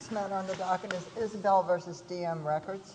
Next matter on the docket is Isbell v. DM Records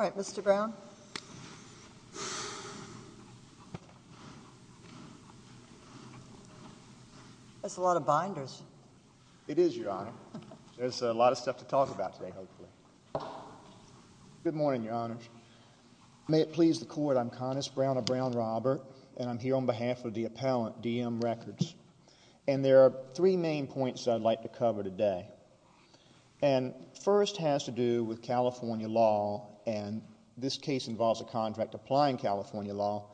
All right, Mr. Brown. That's a lot of binders. It is, Your Honor. There's a lot of stuff to talk about today, hopefully. Good morning, Your Honors. May it please the Court, I'm David Brown on behalf of the appellant, DM Records. And there are three main points I'd like to cover today. And first has to do with California law, and this case involves a contract applying California law,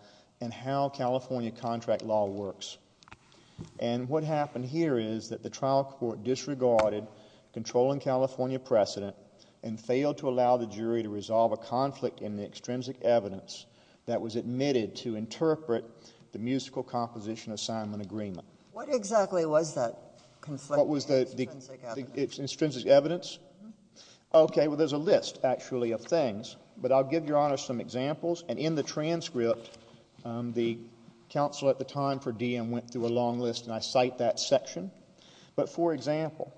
and how California contract law works. And what happened here is that the trial court disregarded controlling California precedent and failed to allow the jury to resolve a conflict in the extrinsic evidence that was admitted to interpret the musical composition assignment agreement. What exactly was that conflict in the extrinsic evidence? Okay, well, there's a list, actually, of things. But I'll give Your Honor some examples. And in the transcript, the counsel at the time for DM went through a long list, and I cite that section. But for example,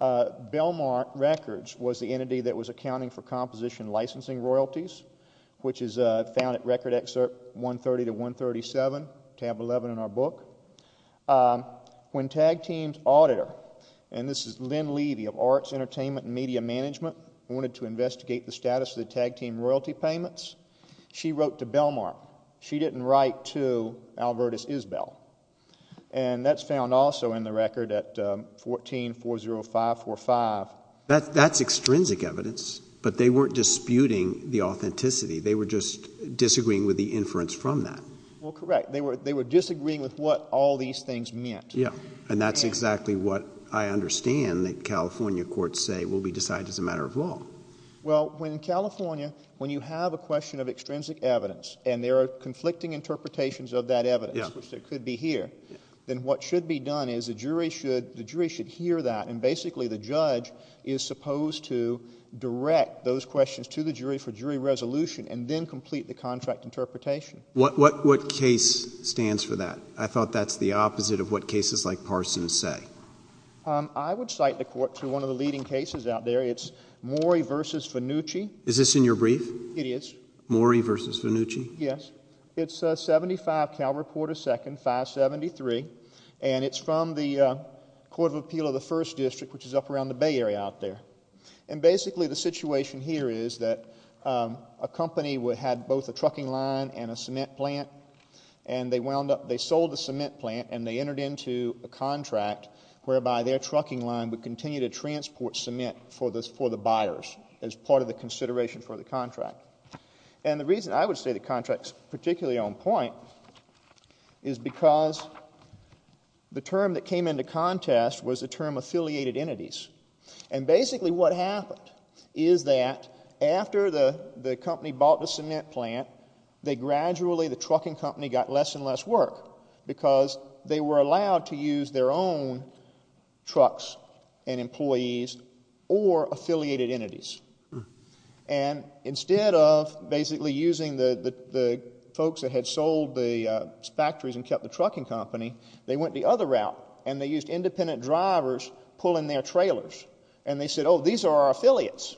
Belmar Records was the entity that was accounting for composition licensing royalties, which is found at Record Excerpt 130-137, tab 11 in our book. When tag team's auditor, and this is Lynn Levy of Arts, Entertainment, and Media Management, wanted to investigate the status of the tag team royalty payments, she wrote to Belmar. She didn't write to Albertus Isbell. And that's found also in the record at 1440545. That's extrinsic evidence, but they weren't disputing the authenticity. They were just disagreeing with the inference from that. Well, correct. They were disagreeing with what all these things meant. Yeah. And that's exactly what I understand that California courts say will be decided as a matter of law. Well, when in California, when you have a question of extrinsic evidence, and there are conflicting interpretations of that evidence, which there could be here, then what should be done is the jury should hear that, and basically the judge is supposed to direct those questions to the jury for jury resolution and then complete the contract interpretation. What case stands for that? I thought that's the opposite of what cases like Parsons say. I would cite the court for one of the leading cases out there. It's Morey v. Vannucci. Is this in your brief? It is. Morey v. Vannucci? Yes. It's 75 Cal Reporter 2nd, 573, and it's from the Court of Appeal of the 1st District, which is up around the Bay Area out there. And basically the situation here is that a company had both a trucking line and a cement plant, and they wound up, they sold the cement plant, and they entered into a contract whereby their trucking line would continue to transport cement for the buyers as part of the consideration for the contract. And the reason I would say the contract is particularly on point is because the term that came into contest was the term affiliated entities. And basically what happened is that after the company bought the cement plant, they gradually, the trucking company, got less and less work because they were allowed to use their own trucks and employees or affiliated entities. And instead of basically using the folks that had sold the factories and kept the trucking company, they went the other route, and they used independent drivers pulling their trailers. And they said, oh, these are our affiliates.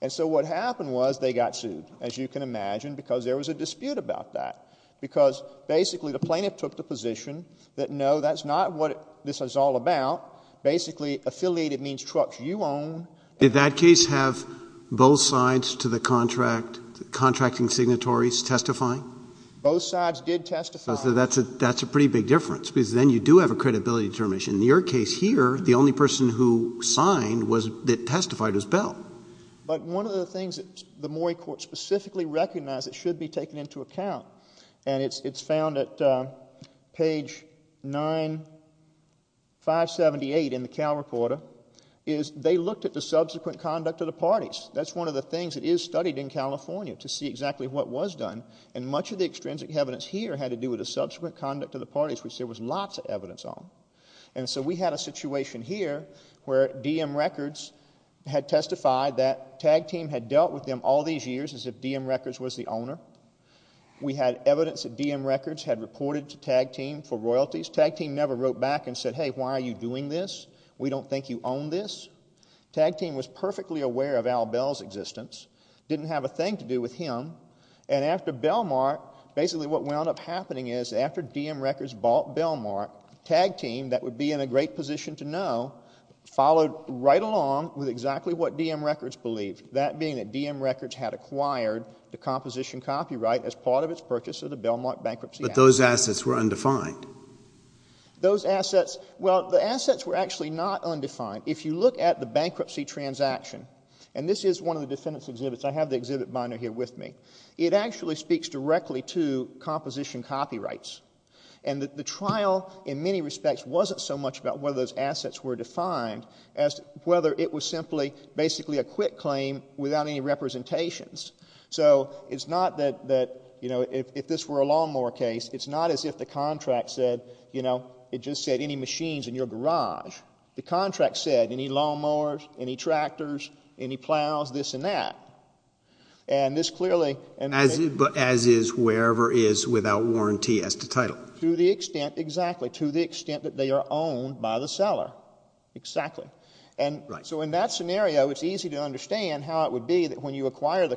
And so what happened was they got sued, as you can imagine, because there was a dispute about that, because basically the plaintiff took the position that, no, that's not what this is all about. Basically, affiliated means trucks you own. Did that case have both sides to the contract, the contracting signatories, testifying? Both sides did testify. So that's a pretty big difference, because then you do have a credibility determination. In your case here, the only person who signed was, that testified, was Bell. But one of the things that the Morey Court specifically recognized that should be taken into account, and it's found at page 978 in the Cal Recorder, is they looked at the signatory with the subsequent conduct of the parties. That's one of the things that is studied in California, to see exactly what was done. And much of the extrinsic evidence here had to do with the subsequent conduct of the parties, which there was lots of evidence on. And so we had a situation here where DM Records had testified that Tag Team had dealt with them all these years, as if DM Records was the owner. We had evidence that DM Records had reported to Tag Team for royalties. Tag Team never wrote back and said, hey, why are you doing this? We don't think you own this. Tag Team was perfectly aware of Al Bell's existence, didn't have a thing to do with him. And after Bellmark, basically what wound up happening is, after DM Records bought Bellmark, Tag Team, that would be in a great position to know, followed right along with exactly what DM Records believed, that being that DM Records had acquired the composition copyright as part of its purchase of the Bellmark bankruptcy But those assets were undefined. Those assets, well, the assets were actually not undefined. If you look at the bankruptcy transaction, and this is one of the defendants' exhibits, I have the exhibit binder here with me, it actually speaks directly to composition copyrights. And the trial in many respects wasn't so much about whether those assets were defined as whether it was simply basically a quick claim without any representations. So it's not that, you know, if this were a case, it's not as if the contract said, you know, it just said any machines in your garage. The contract said any lawnmowers, any tractors, any plows, this and that. And this clearly But as is wherever is without warranty as to title. To the extent, exactly, to the extent that they are owned by the seller. Exactly. And so in that scenario, it's easy to understand how it would be that when you acquire the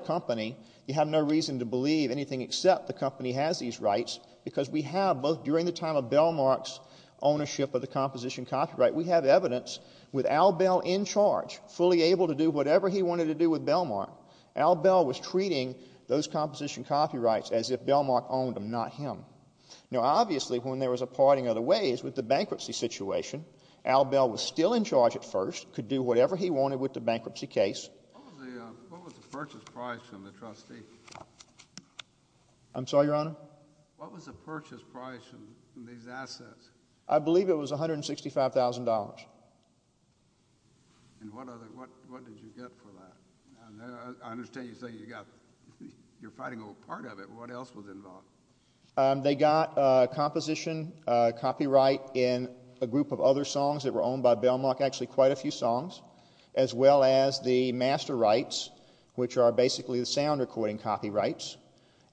rights, because we have both during the time of Bellmark's ownership of the composition copyright, we have evidence with Al Bell in charge, fully able to do whatever he wanted to do with Bellmark. Al Bell was treating those composition copyrights as if Bellmark owned them, not him. Now, obviously, when there was a parting of the ways with the bankruptcy situation, Al Bell was still in charge at first, could do whatever he wanted with the bankruptcy case. What was the purchase price from the trustee? I'm sorry, Your Honor? What was the purchase price from these assets? I believe it was $165,000. And what did you get for that? I understand you say you got, you're fighting over part of it. What else was involved? They got composition copyright in a group of other songs that were owned by Bellmark. Actually, quite a few songs, as well as the master rights, which are basically the sound recording copyrights,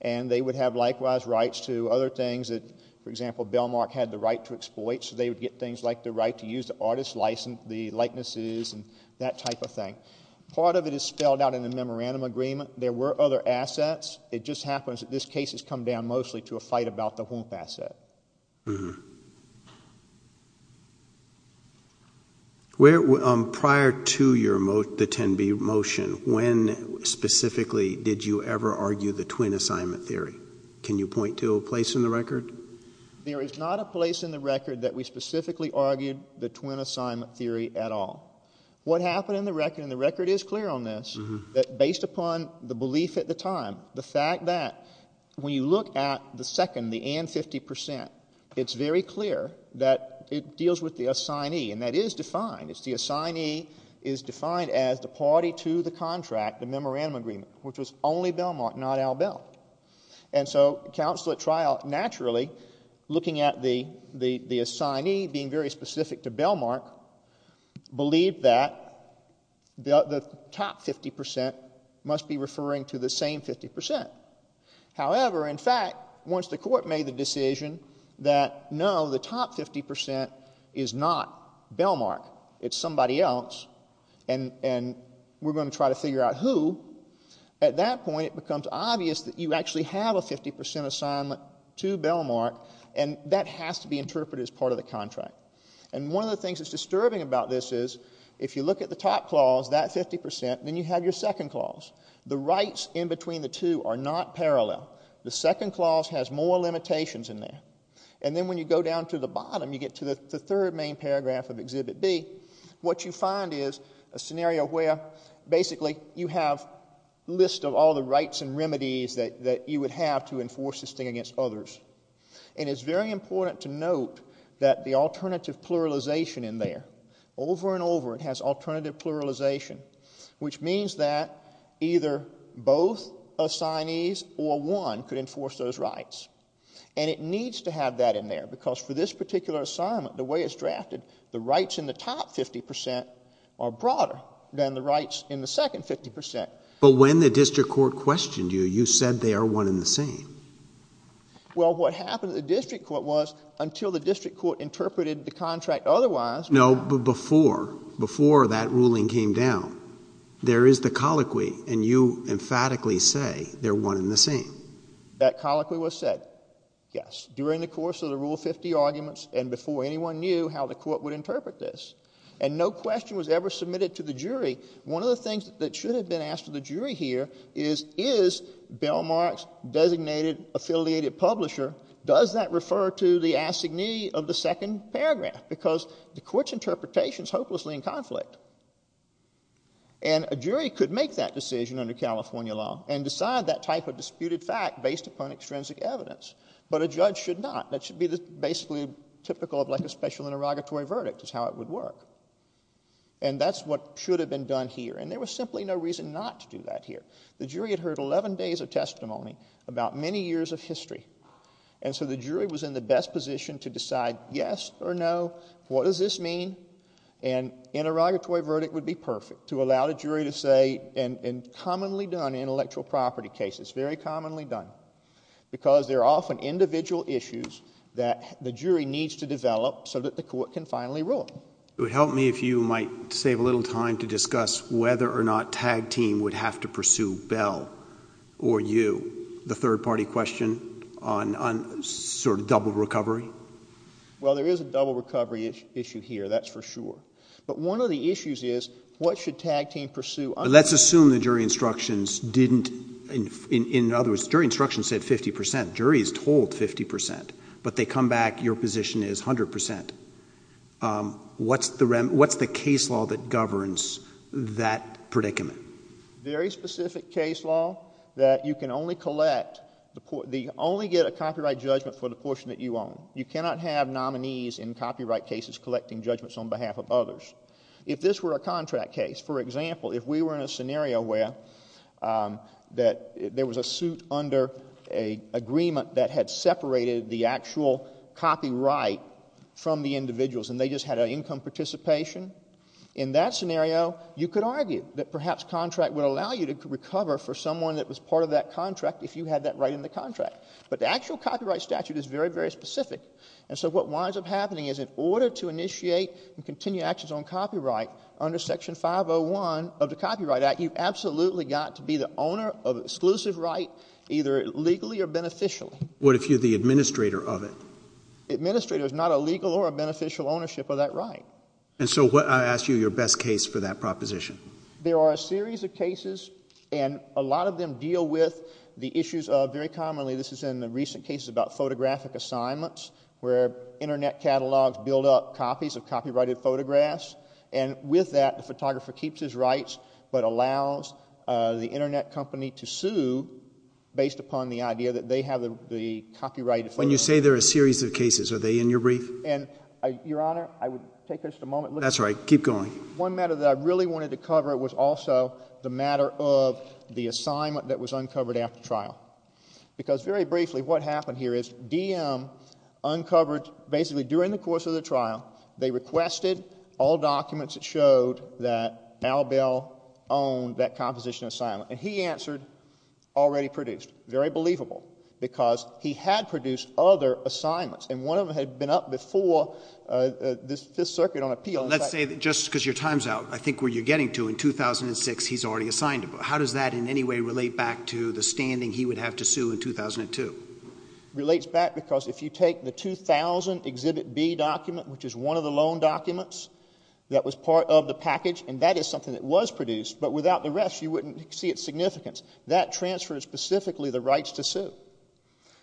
and they would have likewise rights to other things that, for example, Bellmark had the right to exploit, so they would get things like the right to use the artist's license, the likenesses, and that type of thing. Part of it is spelled out in the memorandum agreement. There were other assets. It just happens that this case has come down mostly to a fight about the whomp asset. Prior to the 10B motion, when specifically did you ever argue the twin assignment theory? Can you point to a place in the record? There is not a place in the record that we specifically argued the twin assignment theory at all. What happened in the record, and the record is clear on this, that based upon the belief at the time, the fact that when you look at the second, the and 50 percent, it's very clear that it deals with the assignee, and that is defined. The assignee is defined as the party to the contract, the memorandum agreement, which was only Bellmark, not Al Bell. Counsel at trial, naturally, looking at the assignee being very specific to Bellmark, believed that the top 50 percent must be referring to the same 50 percent. However, in fact, once the court made the decision that no, the top 50 percent is not Bellmark, it's somebody else, and we're going to try to figure out who, at that point it becomes obvious that you actually have a 50 percent assignment to Bellmark, and that has to be interpreted as part of the contract. And one of the things that's disturbing about this is if you look at the top clause, that 50 percent, then you have your second clause. The rights in between the two are not parallel. The second clause has more limitations in there. And then when you go down to the bottom, you get to the third main paragraph of Exhibit B, what you find is a scenario where basically you have a list of all the rights and remedies that you would have to enforce this thing against others. And it's very important to note that the alternative pluralization in there, over and over it has alternative pluralization, which means that either both assignees or one could enforce those rights. And it needs to have that in there, because for this particular assignment, the way it's drafted, the rights in the top 50 percent are broader than the rights in the second 50 percent. But when the district court questioned you, you said they are one and the same. Well, what happened at the district court was until the district court interpreted the contract otherwise... No, but before, before that ruling came down, there is the colloquy, and you emphatically say they're one and the same. That colloquy was said, yes, during the course of the Rule 50 arguments and before anyone knew how the court would interpret this. And no question was ever submitted to the jury. One of the things that should have been asked to the jury here is, is Bellmark's designated affiliated publisher, does that refer to the assignee of the second paragraph? Because the court's interpretation is hopelessly in conflict. And a jury could make that decision under California law and decide that type of disputed fact based upon extrinsic evidence. But a judge should not. That should be the basically typical of like a special interrogatory verdict is how it would work. And that's what should have been done here. And there was simply no reason not to do that here. The jury had heard 11 days of testimony about many years of history. And so the jury was in the best position to decide yes or no, what does this mean? An interrogatory verdict would be perfect to allow the jury to say, and commonly done in intellectual property cases, very commonly done, because there are It would help me if you might save a little time to discuss whether or not Tag Team would have to pursue Bell or you, the third-party question on sort of double recovery. Well, there is a double recovery issue here, that's for sure. But one of the issues is what should Tag Team pursue? Let's assume the jury instructions didn't, in other words, jury instructions said 50 percent, but they come back, your position is 100 percent. What's the case law that governs that predicament? Very specific case law that you can only collect, only get a copyright judgment for the portion that you own. You cannot have nominees in copyright cases collecting judgments on behalf of others. If this were a contract case, for example, if we were in a scenario where there was a suit under a agreement that had separated the actual copyright from the individuals and they just had an income participation, in that scenario, you could argue that perhaps contract would allow you to recover for someone that was part of that contract if you had that right in the contract. But the actual copyright statute is very, very specific. And so what winds up happening is in order to initiate and continue actions on copyright under Section 501 of the Copyright Act, you've absolutely got to be the owner of exclusive right, either legally or beneficially. What if you're the administrator of it? Administrator is not a legal or a beneficial ownership of that right. And so what, I ask you, your best case for that proposition? There are a series of cases, and a lot of them deal with the issues of, very commonly, this is in the recent cases about photographic assignments, where Internet catalogs build up copies of copyrighted photographs. And with that, the photographer keeps his rights but allows the Internet company to sue based upon the idea that they have the copyrighted photographs. When you say there are a series of cases, are they in your brief? And, your Honor, I would take just a moment. That's right. Keep going. One matter that I really wanted to cover was also the matter of the assignment that was uncovered after trial. Because, very briefly, what happened here is DM uncovered, basically during the course of the trial, they requested all documents that showed that Mal Bell owned that composition assignment. And he answered, already produced. Very believable. Because he had produced other assignments, and one of them had been up before the Fifth Circuit on appeal. Let's say, just because your time's out, I think where you're getting to, in 2006, he's already assigned it. How does that in any way relate back to the standing he would have to sue in 2002? It relates back because if you take the 2000 Exhibit B document, which is one of the loan documents that was part of the package, and that is something that was produced, but without the rest, you wouldn't see its significance. That transfers specifically the rights to sue.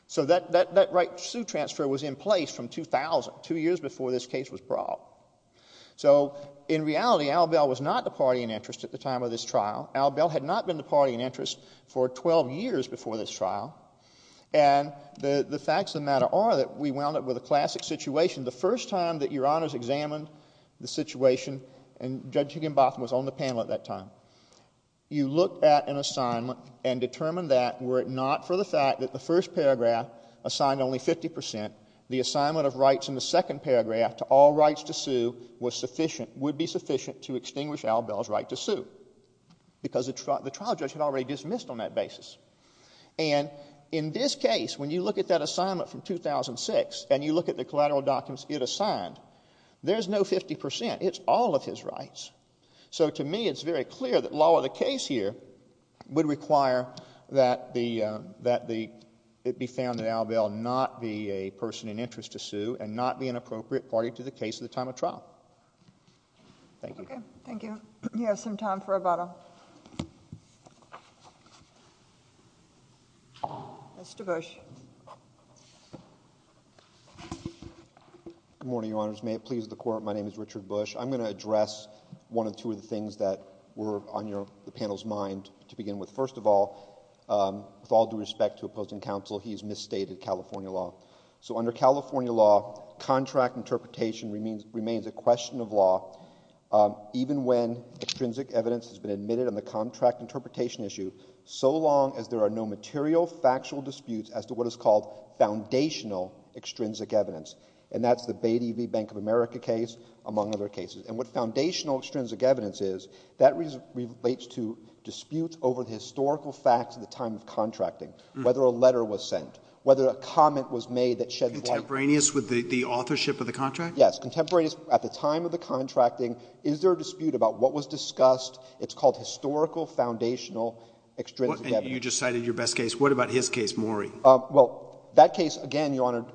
So that right to sue transfer was in place from 2000, two years before this case was brought. So, in reality, Al Bell was not the party in interest at the time of this trial. Al Bell was not the party in interest. And the facts of the matter are that we wound up with a classic situation. The first time that Your Honors examined the situation, and Judge Higginbotham was on the panel at that time, you looked at an assignment and determined that, were it not for the fact that the first paragraph assigned only 50 percent, the assignment of rights in the second paragraph to all rights to sue was sufficient, would be sufficient to extinguish Al Bell's right to sue. Because the trial judge had already dismissed on that basis. And in this case, when you look at that assignment from 2006, and you look at the collateral documents it assigned, there's no 50 percent. It's all of his rights. So, to me, it's very clear that law of the case here would require that it be found that Al Bell not be a person in interest to sue and not be an appropriate party to the case at the time of trial. Thank you. Thank you. We have some time for a vote. Mr. Bush. Good morning, Your Honors. May it please the Court, my name is Richard Bush. I'm going to address one or two of the things that were on the panel's mind to begin with. First of all, with all due respect to opposing counsel, he's misstated California law. So, under California law, contract interpretation remains a question of law, even when there are no material factual disputes as to what is called foundational extrinsic evidence. And that's the Bay-D-V Bank of America case, among other cases. And what foundational extrinsic evidence is, that relates to disputes over the historical facts at the time of contracting. Whether a letter was sent, whether a comment was made that shed light... Contemporaneous with the authorship of the contract? Yes. Contemporaneous at the time of the contracting. It's called historical foundational extrinsic evidence. And you just cited your best case. What about his case, Maury? Well, that case, again, Your Honor,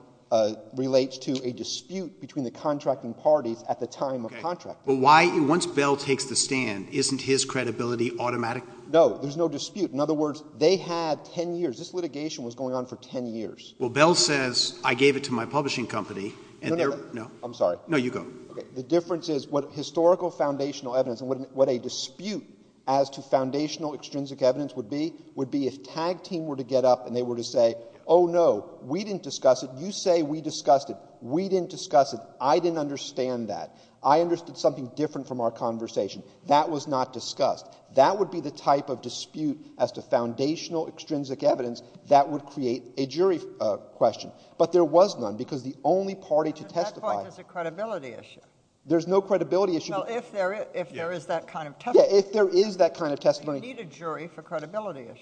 relates to a dispute between the contracting parties at the time of contracting. Okay. But why... once Bell takes the stand, isn't his credibility automatic? No. There's no dispute. In other words, they had 10 years. This litigation was going on for 10 years. Well, Bell says, I gave it to my publishing company, and they're... No, no, no. No. I'm sorry. No, you go. Okay. The difference is what historical foundational evidence and what a dispute as to foundational extrinsic evidence would be, would be if tag team were to get up and they were to say, oh, no, we didn't discuss it. You say we discussed it. We didn't discuss it. I didn't understand that. I understood something different from our conversation. That was not discussed. That would be the type of dispute as to foundational extrinsic evidence that would create a jury question. But there was none, because the only party to testify... At that point, there's a credibility issue. There's no credibility issue... Well, if there is that kind of testimony...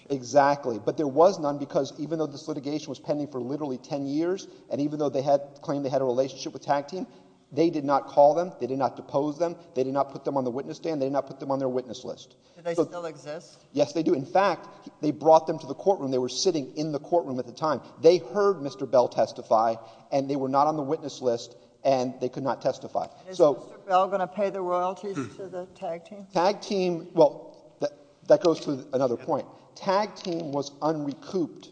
Exactly. But there was none, because even though this litigation was pending for literally ten years, and even though they had claimed they had a relationship with tag team, they did not call them, they did not depose them, they did not put them on the witness stand, they did not put them on their witness list. Do they still exist? Yes, they do. In fact, they brought them to the courtroom. They were sitting in the courtroom at the time. They heard Mr. Bell testify, and they were not on the witness list, and they could not testify. So... Is Mr. Bell going to pay the royalties to the tag team? Tag team... well, that goes to another point. Tag team was unrecouped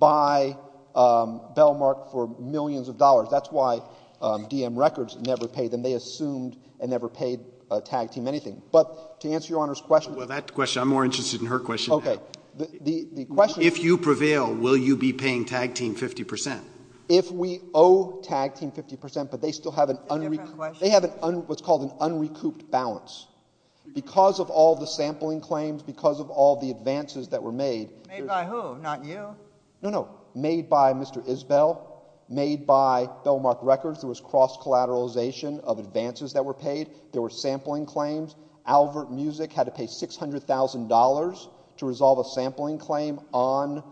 by Bellmark for millions of dollars. That's why DM Records never paid them. They assumed and never paid tag team anything. But to answer Your Honor's question... Well, that question... I'm more interested in her question. Okay. The question... If you prevail, will you be paying tag team 50 percent? If we owe tag team 50 percent, but they still have an... It's a different question. They have what's called an unrecouped balance. Because of all the sampling claims, because of all the advances that were made... Made by who? Not you? No, no. Made by Mr. Isbell. Made by Bellmark Records. There was cross-collateralization of advances that were paid. There were sampling claims. Albert Music had to pay $600,000 to resolve a sampling claim on...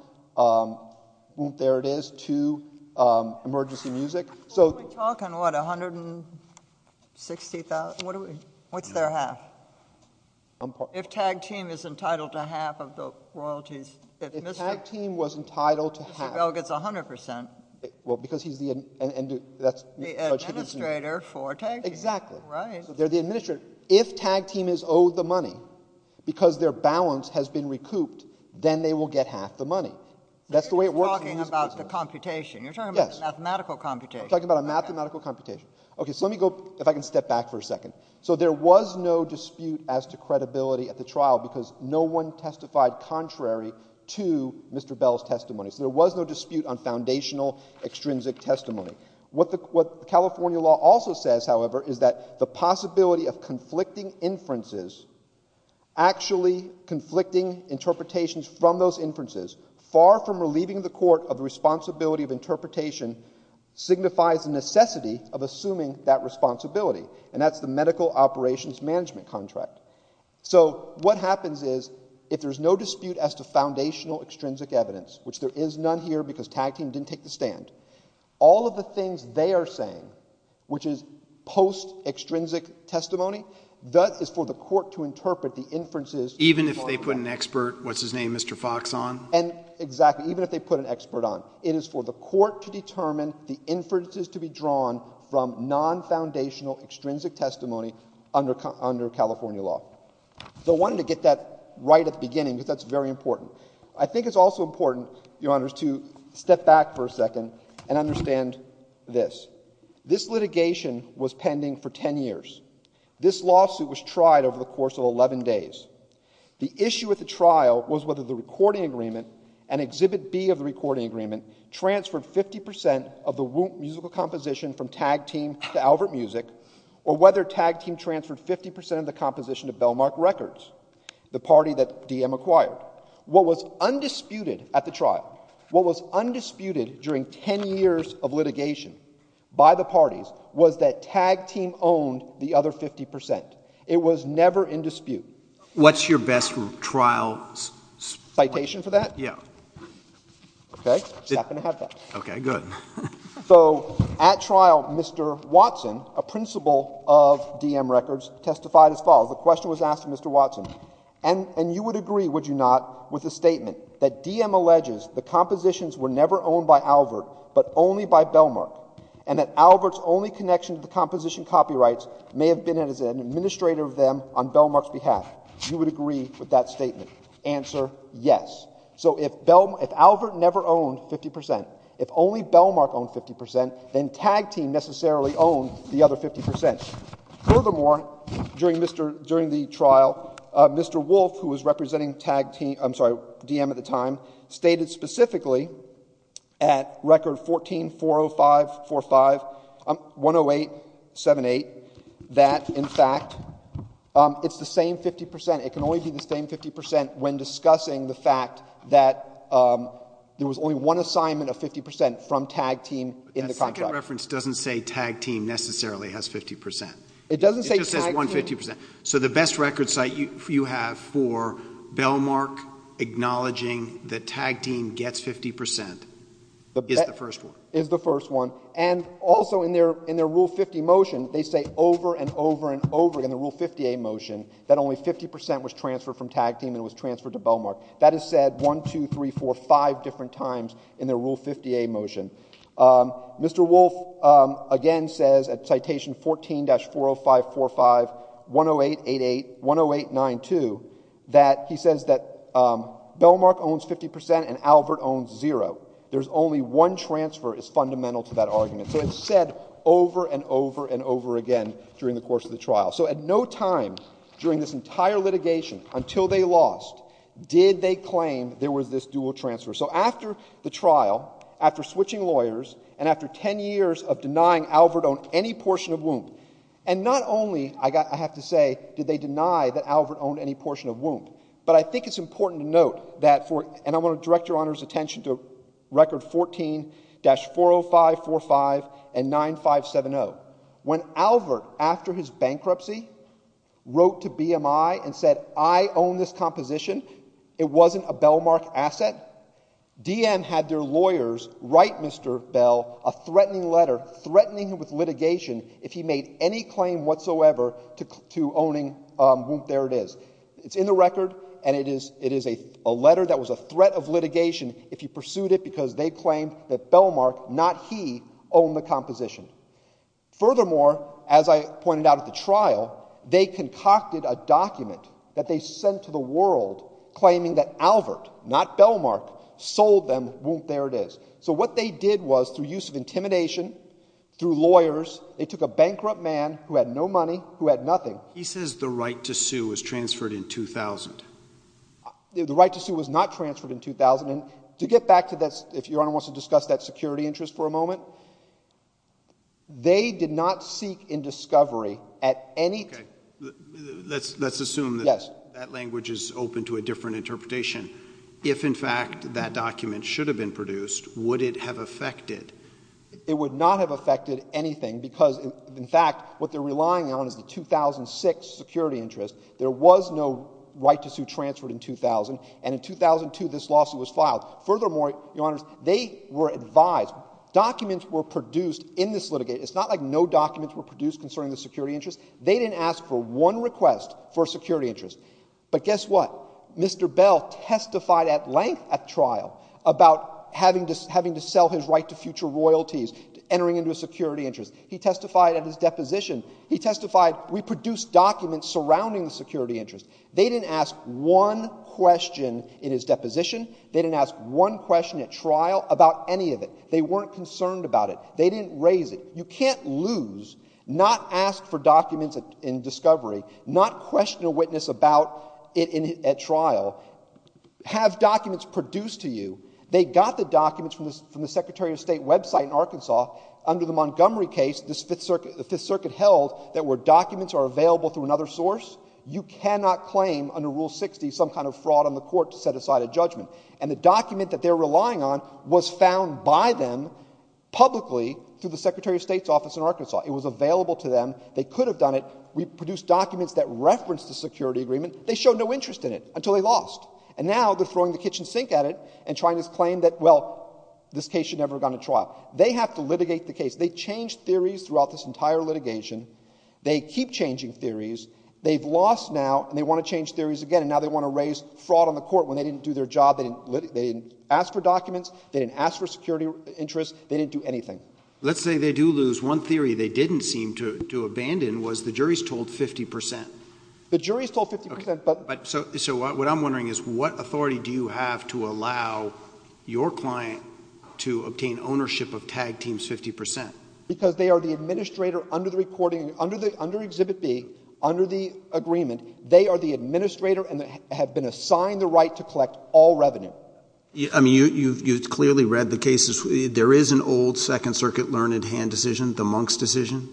There it is... to Emergency Music. We talk on what, $160,000? What's their half? If tag team is entitled to half of the royalties... If tag team was entitled to half... Mr. Bell gets 100 percent. Well, because he's the... The administrator for tag team. Exactly. Right. They're the administrator. If tag team is owed the money, because their balance has been recouped, then they will get half the money. That's the way it works in music business. You're talking about the computation. Yes. You're talking about a mathematical computation. I'm talking about a mathematical computation. Okay. So, let me go... if I can step back for a second. So, there was no dispute as to credibility at the trial, because no one testified contrary to Mr. Bell's testimony. So, there was no dispute on foundational extrinsic testimony. What the California law also says, however, is that the possibility of conflicting inferences... actually conflicting interpretations from those inferences... signifies a necessity of assuming that responsibility, and that's the medical operations management contract. So, what happens is, if there's no dispute as to foundational extrinsic evidence, which there is none here because tag team didn't take the stand, all of the things they are saying, which is post-extrinsic testimony, that is for the court to interpret the inferences... Even if they put an expert, what's his name, Mr. Fox on? And, exactly, even if they put an expert on. It is for the court to determine the inferences to be drawn from non-foundational extrinsic testimony under California law. So, I wanted to get that right at the beginning, because that's very important. I think it's also important, Your Honors, to step back for a second and understand this. This litigation was pending for 10 years. This lawsuit was tried over the course of 11 days. The issue at the trial was whether the recording agreement, and Exhibit B of the recording agreement, transferred 50% of the musical composition from tag team to Albert Music, or whether tag team transferred 50% of the composition to Bellmark Records, the party that DM acquired. What was undisputed at the trial, what was undisputed during 10 years of litigation by the parties, was that tag team owned the other 50%. It was never in dispute. What's your best trial? Citation for that? Yeah. Okay. Just happened to have that. Okay, good. So, at trial, Mr. Watson, a principal of DM Records, testified as follows. The question was asked to Mr. Watson, and you would agree, would you not, with the statement that DM alleges the compositions were never owned by Albert, but only by Bellmark, and that Albert's only connection to the composition copyrights may have been as an administrator of them on Bellmark's behalf. You would agree with that statement. Answer, yes. So, if Albert never owned 50%, if only Bellmark owned 50%, then tag team necessarily owned the other 50%. Furthermore, during the trial, Mr. Wolfe, who was representing DM at the time, stated specifically at record 14-405-45, 108-78, that, in fact, it's the same 50%. It can only be the same 50% when discussing the fact that there was only one assignment of 50% from tag team in the contract. That second reference doesn't say tag team necessarily has 50%. It doesn't say tag team. It just says 150%. So the best record site you have for Bellmark acknowledging that tag team gets 50% is the first one. Is the first one. And also in their Rule 50 motion, they say over and over and over again in the Rule 50A motion, that only 50% was transferred from tag team and was transferred to Bellmark. That is said one, two, three, four, five different times in their Rule 50A motion. Mr. Wolfe again says at citation 14-405-45, 108-88, 108-92, that he says that Bellmark owns 50% and Albert owns zero. There's only one transfer is fundamental to that argument. So it's said over and over and over again during the course of the trial. So at no time during this entire litigation until they lost did they claim there was this dual transfer. So after the trial, after switching lawyers, and after ten years of denying Albert owned any portion of WOMP, and not only, I have to say, did they deny that Albert owned any portion of WOMP, but I think it's important to note that for, and I want to direct Your Honor's attention to record 14-405-45 and 9570. When Albert, after his bankruptcy, wrote to BMI and said I own this composition, it wasn't a Bellmark asset, DM had their lawyers write Mr. Bell a threatening letter, threatening him with litigation if he made any claim whatsoever to owning WOMP. There it is. It's in the record, and it is a letter that was a threat of litigation if he pursued it because they claimed that Bellmark, not he, owned the composition. Furthermore, as I pointed out at the trial, they concocted a document that they sent to the world claiming that Albert, not Bellmark, sold them WOMP. There it is. So what they did was through use of intimidation, through lawyers, they took a bankrupt man who had no money, who had nothing. He says the right to sue was transferred in 2000. The right to sue was not transferred in 2000. To get back to that, if Your Honor wants to discuss that security interest for a moment, they did not seek in discovery at any time. Okay. Let's assume that that language is open to a different interpretation. If, in fact, that document should have been produced, would it have affected? It would not have affected anything because, in fact, what they're relying on is the 2006 security interest. There was no right to sue transferred in 2000, and in 2002 this lawsuit was filed. Furthermore, Your Honors, they were advised. Documents were produced in this litigate. It's not like no documents were produced concerning the security interest. They didn't ask for one request for a security interest. But guess what? Mr. Bell testified at length at trial about having to sell his right to future royalties, entering into a security interest. He testified at his deposition. He testified, we produced documents surrounding the security interest. They didn't ask one question in his deposition. They didn't ask one question at trial about any of it. They weren't concerned about it. They didn't raise it. You can't lose, not ask for documents in discovery, not question a witness about it at trial, have documents produced to you. They got the documents from the Secretary of State website in Arkansas. Under the Montgomery case, the Fifth Circuit held that where documents are available through another source, you cannot claim under Rule 60 some kind of fraud on the court to set aside a judgment. And the document that they're relying on was found by them publicly through the Secretary of State's office in Arkansas. It was available to them. They could have done it. We produced documents that referenced the security agreement. They showed no interest in it until they lost. And now they're throwing the kitchen sink at it and trying to claim that, well, this case should never have gone to trial. They have to litigate the case. They changed theories throughout this entire litigation. They keep changing theories. They've lost now, and they want to change theories again. And now they want to raise fraud on the court when they didn't do their job. They didn't ask for documents. They didn't ask for security interests. They didn't do anything. Let's say they do lose. One theory they didn't seem to abandon was the jury's told 50 percent. The jury's told 50 percent. So what I'm wondering is what authority do you have to allow your client to obtain ownership of tag teams 50 percent? Because they are the administrator under the recording, under Exhibit B, under the agreement. They are the administrator and have been assigned the right to collect all revenue. I mean, you've clearly read the cases. There is an old Second Circuit learned hand decision, the Monks decision,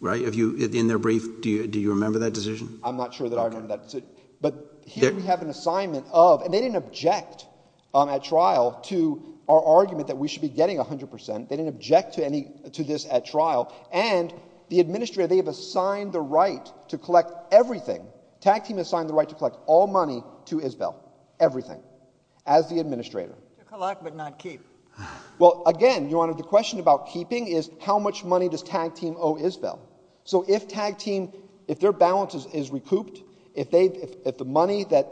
right, in their brief. Do you remember that decision? I'm not sure that I remember that decision. But here we have an assignment of, and they didn't object at trial to our argument that we should be getting 100 percent. They didn't object to this at trial. And the administrator, they have assigned the right to collect everything. Tag team has assigned the right to collect all money to Isbell, everything, as the administrator. Collect but not keep. Well, again, Your Honor, the question about keeping is how much money does tag team owe Isbell? So if tag team, if their balance is recouped, if the money that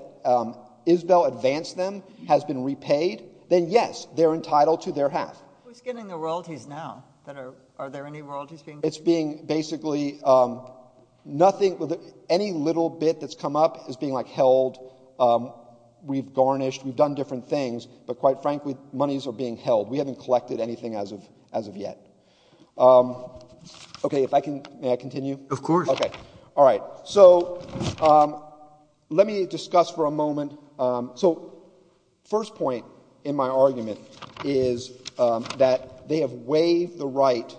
Isbell advanced them has been repaid, then, yes, they're entitled to their half. Who's getting the royalties now? Are there any royalties being paid? It's being basically nothing, any little bit that's come up is being, like, held. We've garnished. We've done different things. But quite frankly, monies are being held. We haven't collected anything as of yet. Okay, if I can, may I continue? Of course. Okay. All right. So let me discuss for a moment. So first point in my argument is that they have waived the right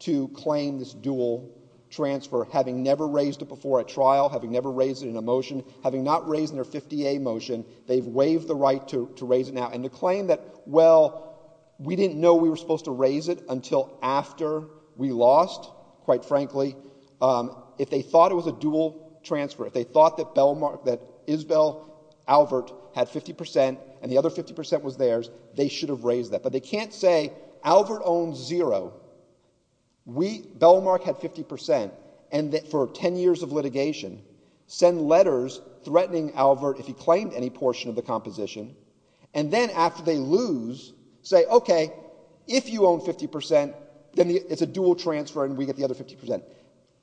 to claim this dual transfer, having never raised it before a trial, having never raised it in a motion, having not raised in their 50A motion, they've waived the right to raise it now. And to claim that, well, we didn't know we were supposed to raise it until after we lost, quite frankly, if they thought it was a dual transfer, if they thought that Bellmark, that Isbell Albert had 50% and the other 50% was theirs, they should have raised that. But they can't say Albert owns zero, Bellmark had 50%, and for 10 years of litigation, send letters threatening Albert if he claimed any portion of the composition, and then after they lose, say, okay, if you own 50%, then it's a dual transfer and we get the other 50%.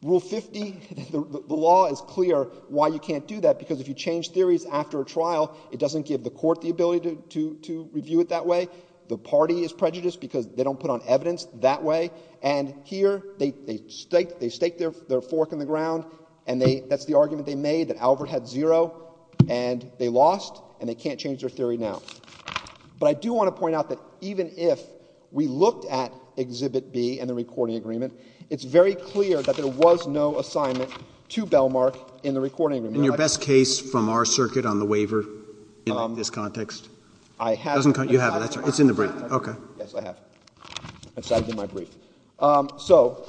Rule 50, the law is clear why you can't do that, because if you change theories after a trial, it doesn't give the court the ability to review it that way. The party is prejudiced because they don't put on evidence that way. And here, they stake their fork in the ground, and that's the argument they made, that Albert had zero, and they lost, and they can't change their theory now. But I do want to point out that even if we looked at Exhibit B and the recording agreement, it's very clear that there was no assignment to Bellmark in the recording agreement. And your best case from our circuit on the waiver in this context? I have it. You have it. It's in the brief. Okay. Yes, I have it. It's in my brief. So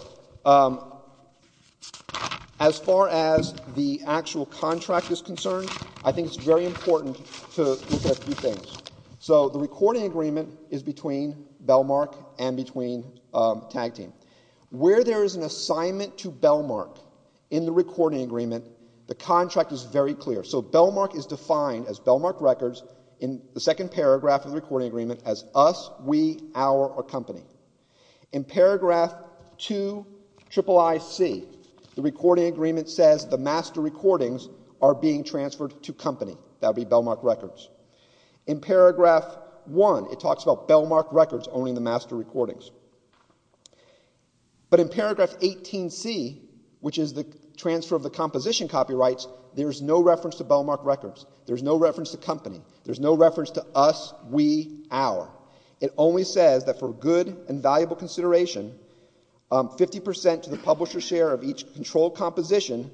as far as the actual contract is concerned, I think it's very important to look at a few things. So the recording agreement is between Bellmark and between Tag Team. Where there is an assignment to Bellmark in the recording agreement, the contract is very clear. So Bellmark is defined as Bellmark Records in the second paragraph of the recording agreement as us, we, our, or company. In paragraph 2, IIIC, the recording agreement says the master recordings are being transferred to company. That would be Bellmark Records. In paragraph 1, it talks about Bellmark Records owning the master recordings. But in paragraph 18C, which is the transfer of the composition copyrights, there's no reference to Bellmark Records. There's no reference to company. There's no reference to us, we, our. It only says that for good and valuable consideration, 50% to the publisher's share of each controlled composition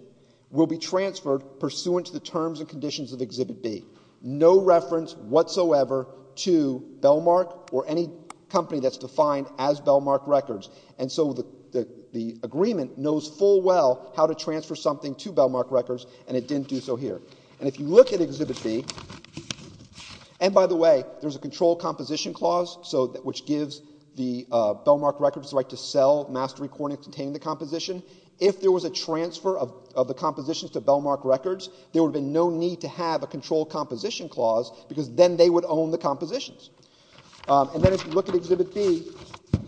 will be transferred pursuant to the terms and conditions of Exhibit B. No reference whatsoever to Bellmark or any company that's defined as Bellmark Records. And so the agreement knows full well how to transfer something to Bellmark Records, and it didn't do so here. And if you look at Exhibit B, and by the way, there's a controlled composition clause, which gives the Bellmark Records the right to sell master recordings containing the composition. If there was a transfer of the compositions to Bellmark Records, there would have been no need to have a controlled composition clause because then they would own the compositions. And then if you look at Exhibit B,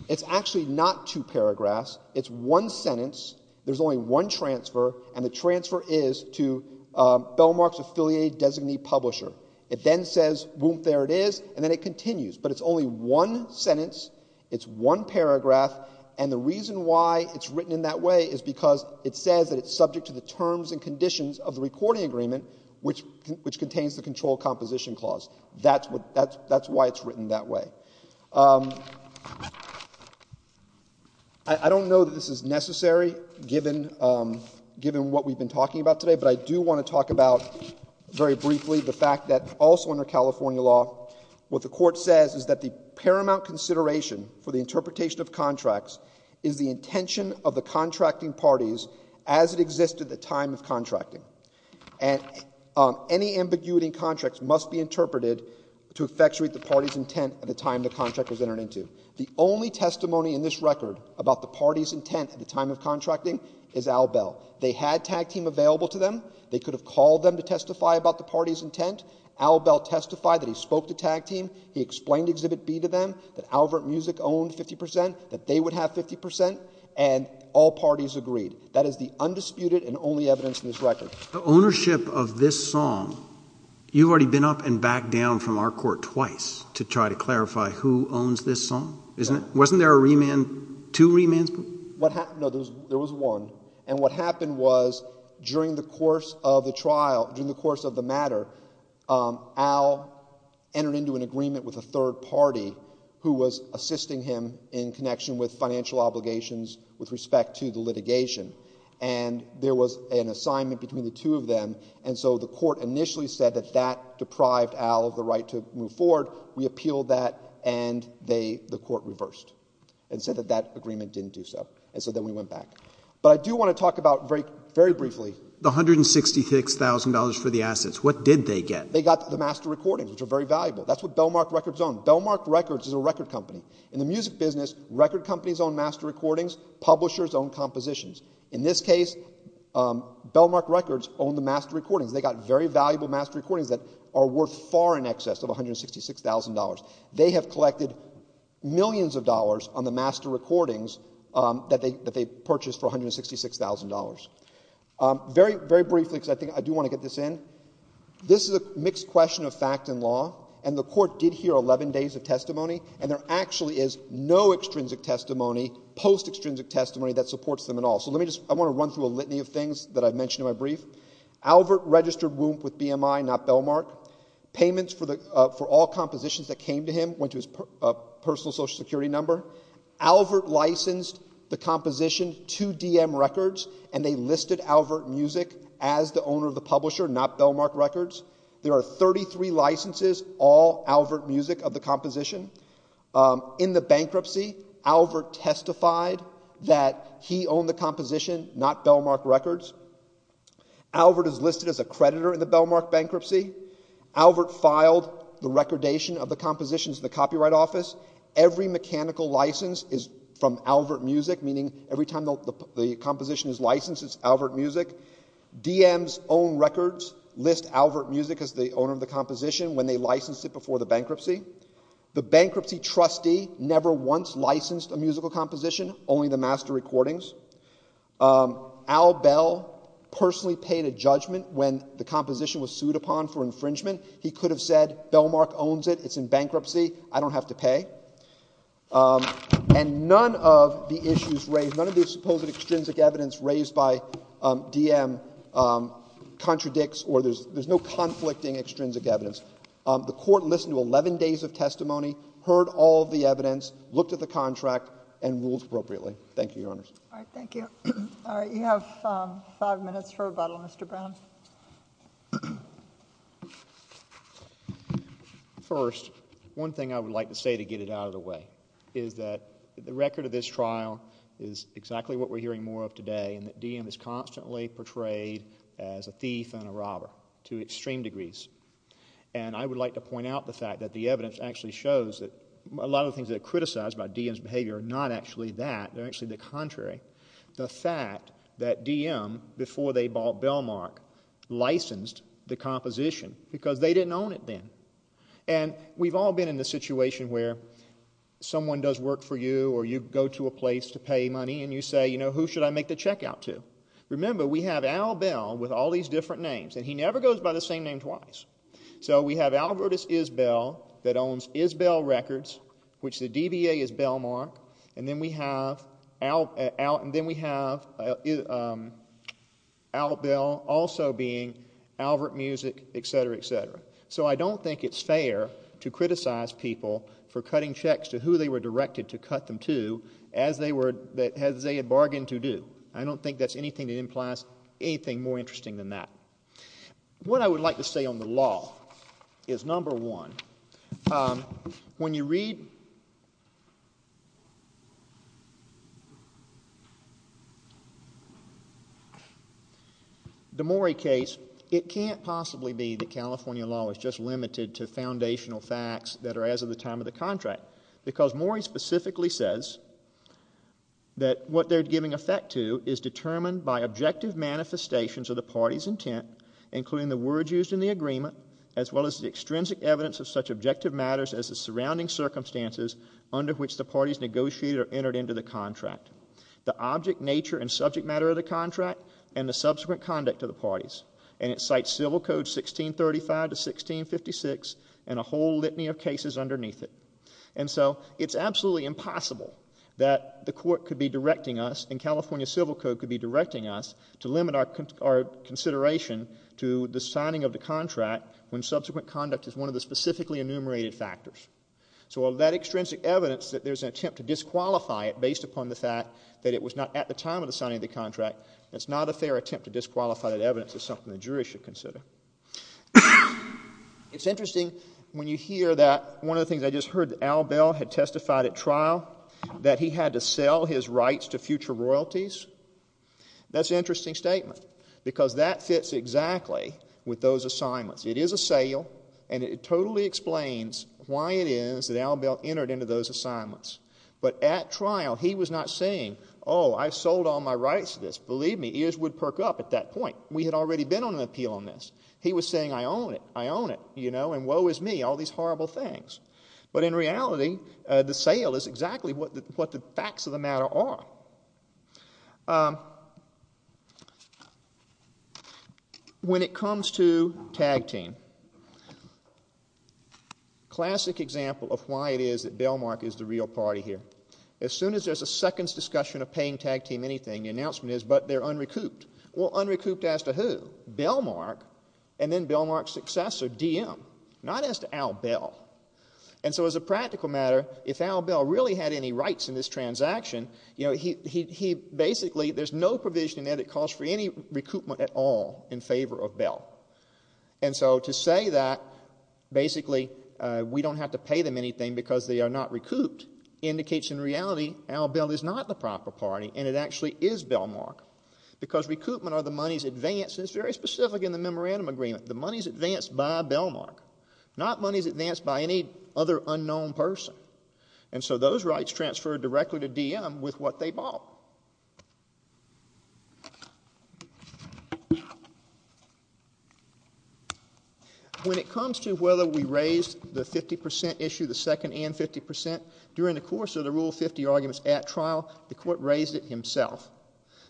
it's actually not two paragraphs. It's one sentence. There's only one transfer, and the transfer is to Bellmark's affiliated designee publisher. It then says, whoomp, there it is, and then it continues. But it's only one sentence. It's one paragraph. And the reason why it's written in that way is because it says that it's subject to the terms and conditions of the recording agreement, which contains the controlled composition clause. That's why it's written that way. I don't know that this is necessary given what we've been talking about today, but I do want to talk about very briefly the fact that also under California law, what the court says is that the paramount consideration for the interpretation of contracts is the intention of the contracting parties as it exists at the time of contracting. And any ambiguity in contracts must be interpreted to effectuate the party's intent at the time the contract was entered into. The only testimony in this record about the party's intent at the time of contracting is Al Bell. They had Tag Team available to them. They could have called them to testify about the party's intent. Al Bell testified that he spoke to Tag Team. He explained Exhibit B to them, that Albert Muzik owned 50 percent, that they would have 50 percent, and all parties agreed. That is the undisputed and only evidence in this record. The ownership of this song, you've already been up and back down from our court twice to try to clarify who owns this song, isn't it? Wasn't there a remand, two remands? No, there was one. And what happened was during the course of the trial, during the course of the matter, Al entered into an agreement with a third party who was assisting him in connection with financial obligations with respect to the litigation. And there was an assignment between the two of them, and so the court initially said that that deprived Al of the right to move forward. We appealed that, and the court reversed and said that that agreement didn't do so, and so then we went back. But I do want to talk about very briefly— The $166,000 for the assets, what did they get? They got the master recordings, which are very valuable. That's what Bellmark Records owned. Bellmark Records is a record company. In the music business, record companies own master recordings, publishers own compositions. In this case, Bellmark Records owned the master recordings. They got very valuable master recordings that are worth far in excess of $166,000. They have collected millions of dollars on the master recordings that they purchased for $166,000. Very briefly, because I do want to get this in, this is a mixed question of fact and law, and the court did hear 11 days of testimony, and there actually is no extrinsic testimony, post-extrinsic testimony that supports them at all. So let me just—I want to run through a litany of things that I've mentioned in my brief. Albert registered WUMP with BMI, not Bellmark. Payments for all compositions that came to him went to his personal Social Security number. Albert licensed the composition to DM Records, and they listed Albert Music as the owner of the publisher, not Bellmark Records. There are 33 licenses, all Albert Music of the composition. In the bankruptcy, Albert testified that he owned the composition, not Bellmark Records. Albert is listed as a creditor in the Bellmark bankruptcy. Albert filed the recordation of the compositions in the Copyright Office. Every mechanical license is from Albert Music, meaning every time the composition is licensed, it's Albert Music. DM's own records list Albert Music as the owner of the composition when they licensed it before the bankruptcy. The bankruptcy trustee never once licensed a musical composition, only the master recordings. Al Bell personally paid a judgment when the composition was sued upon for infringement. He could have said, Bellmark owns it, it's in bankruptcy, I don't have to pay. And none of the issues raised, none of the supposed extrinsic evidence raised by DM contradicts or there's no conflicting extrinsic evidence. The Court listened to 11 days of testimony, heard all of the evidence, looked at the contract, and ruled appropriately. Thank you, Your Honors. All right, thank you. All right, you have five minutes for rebuttal, Mr. Brown. First, one thing I would like to say to get it out of the way is that the record of this trial is exactly what we're hearing more of today, and that DM is constantly portrayed as a thief and a robber to extreme degrees. And I would like to point out the fact that the evidence actually shows that a lot of the things that are criticized about DM's behavior are not actually that. They're actually the contrary. The fact that DM, before they bought Bellmark, licensed the composition because they didn't own it then. And we've all been in the situation where someone does work for you or you go to a place to pay money and you say, you know, who should I make the check out to? Remember, we have Al Bell with all these different names, and he never goes by the same name twice. So we have Albertus Isbell that owns Isbell Records, which the DBA is Bellmark, and then we have Al Bell also being Albert Music, et cetera, et cetera. So I don't think it's fair to criticize people for cutting checks to who they were directed to cut them to as they had bargained to do. I don't think that's anything that implies anything more interesting than that. What I would like to say on the law is, number one, when you read the Morey case, it can't possibly be that California law is just limited to foundational facts that are as of the time of the contract because Morey specifically says that what they're giving effect to is determined by objective manifestations of the party's intent, including the words used in the agreement, as well as the extrinsic evidence of such objective matters as the surrounding circumstances under which the parties negotiated or entered into the contract, the object nature and subject matter of the contract, and the subsequent conduct of the parties. And it cites Civil Code 1635 to 1656 and a whole litany of cases underneath it. And so it's absolutely impossible that the court could be directing us and California Civil Code could be directing us to limit our consideration to the signing of the contract when subsequent conduct is one of the specifically enumerated factors. So that extrinsic evidence that there's an attempt to disqualify it based upon the fact that it was not at the time of the signing of the contract, it's not a fair attempt to disqualify that evidence. It's something the jury should consider. It's interesting when you hear that one of the things I just heard, that Al Bell had testified at trial that he had to sell his rights to future royalties. That's an interesting statement because that fits exactly with those assignments. It is a sale, and it totally explains why it is that Al Bell entered into those assignments. But at trial, he was not saying, oh, I've sold all my rights to this. Believe me, ears would perk up at that point. We had already been on an appeal on this. He was saying, I own it, I own it, you know, and woe is me, all these horrible things. But in reality, the sale is exactly what the facts of the matter are. When it comes to tag team, classic example of why it is that Bellmark is the real party here. As soon as there's a second discussion of paying tag team anything, the announcement is, but they're unrecouped. Well, unrecouped as to who? Bellmark, and then Bellmark's successor, DM, not as to Al Bell. And so as a practical matter, if Al Bell really had any rights in this transaction, you know, he basically, there's no provision in there that calls for any recoupment at all in favor of Bell. And so to say that basically we don't have to pay them anything because they are not recouped indicates in reality Al Bell is not the proper party, and it actually is Bellmark. Because recoupment are the money's advance, and it's very specific in the memorandum agreement, the money's advance by Bellmark, not money's advance by any other unknown person. And so those rights transfer directly to DM with what they bought. When it comes to whether we raised the 50% issue, the second and 50%, during the course of the Rule 50 arguments at trial, the court raised it himself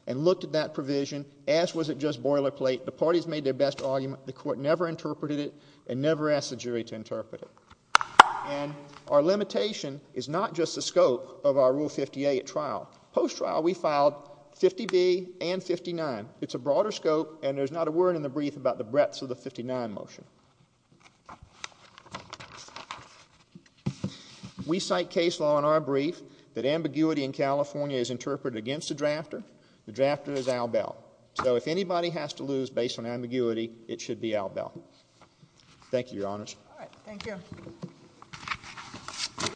and looked at that provision as was it just boilerplate. The parties made their best argument. The court never interpreted it and never asked the jury to interpret it. And our limitation is not just the scope of our Rule 50A at trial. Post-trial we filed 50B and 59. It's a broader scope, and there's not a word in the brief about the breadths of the 59 motion. We cite case law in our brief that ambiguity in California is interpreted against the drafter. The drafter is Al Bell. So if anybody has to lose based on ambiguity, it should be Al Bell. Thank you, Your Honors. All right. Thank you.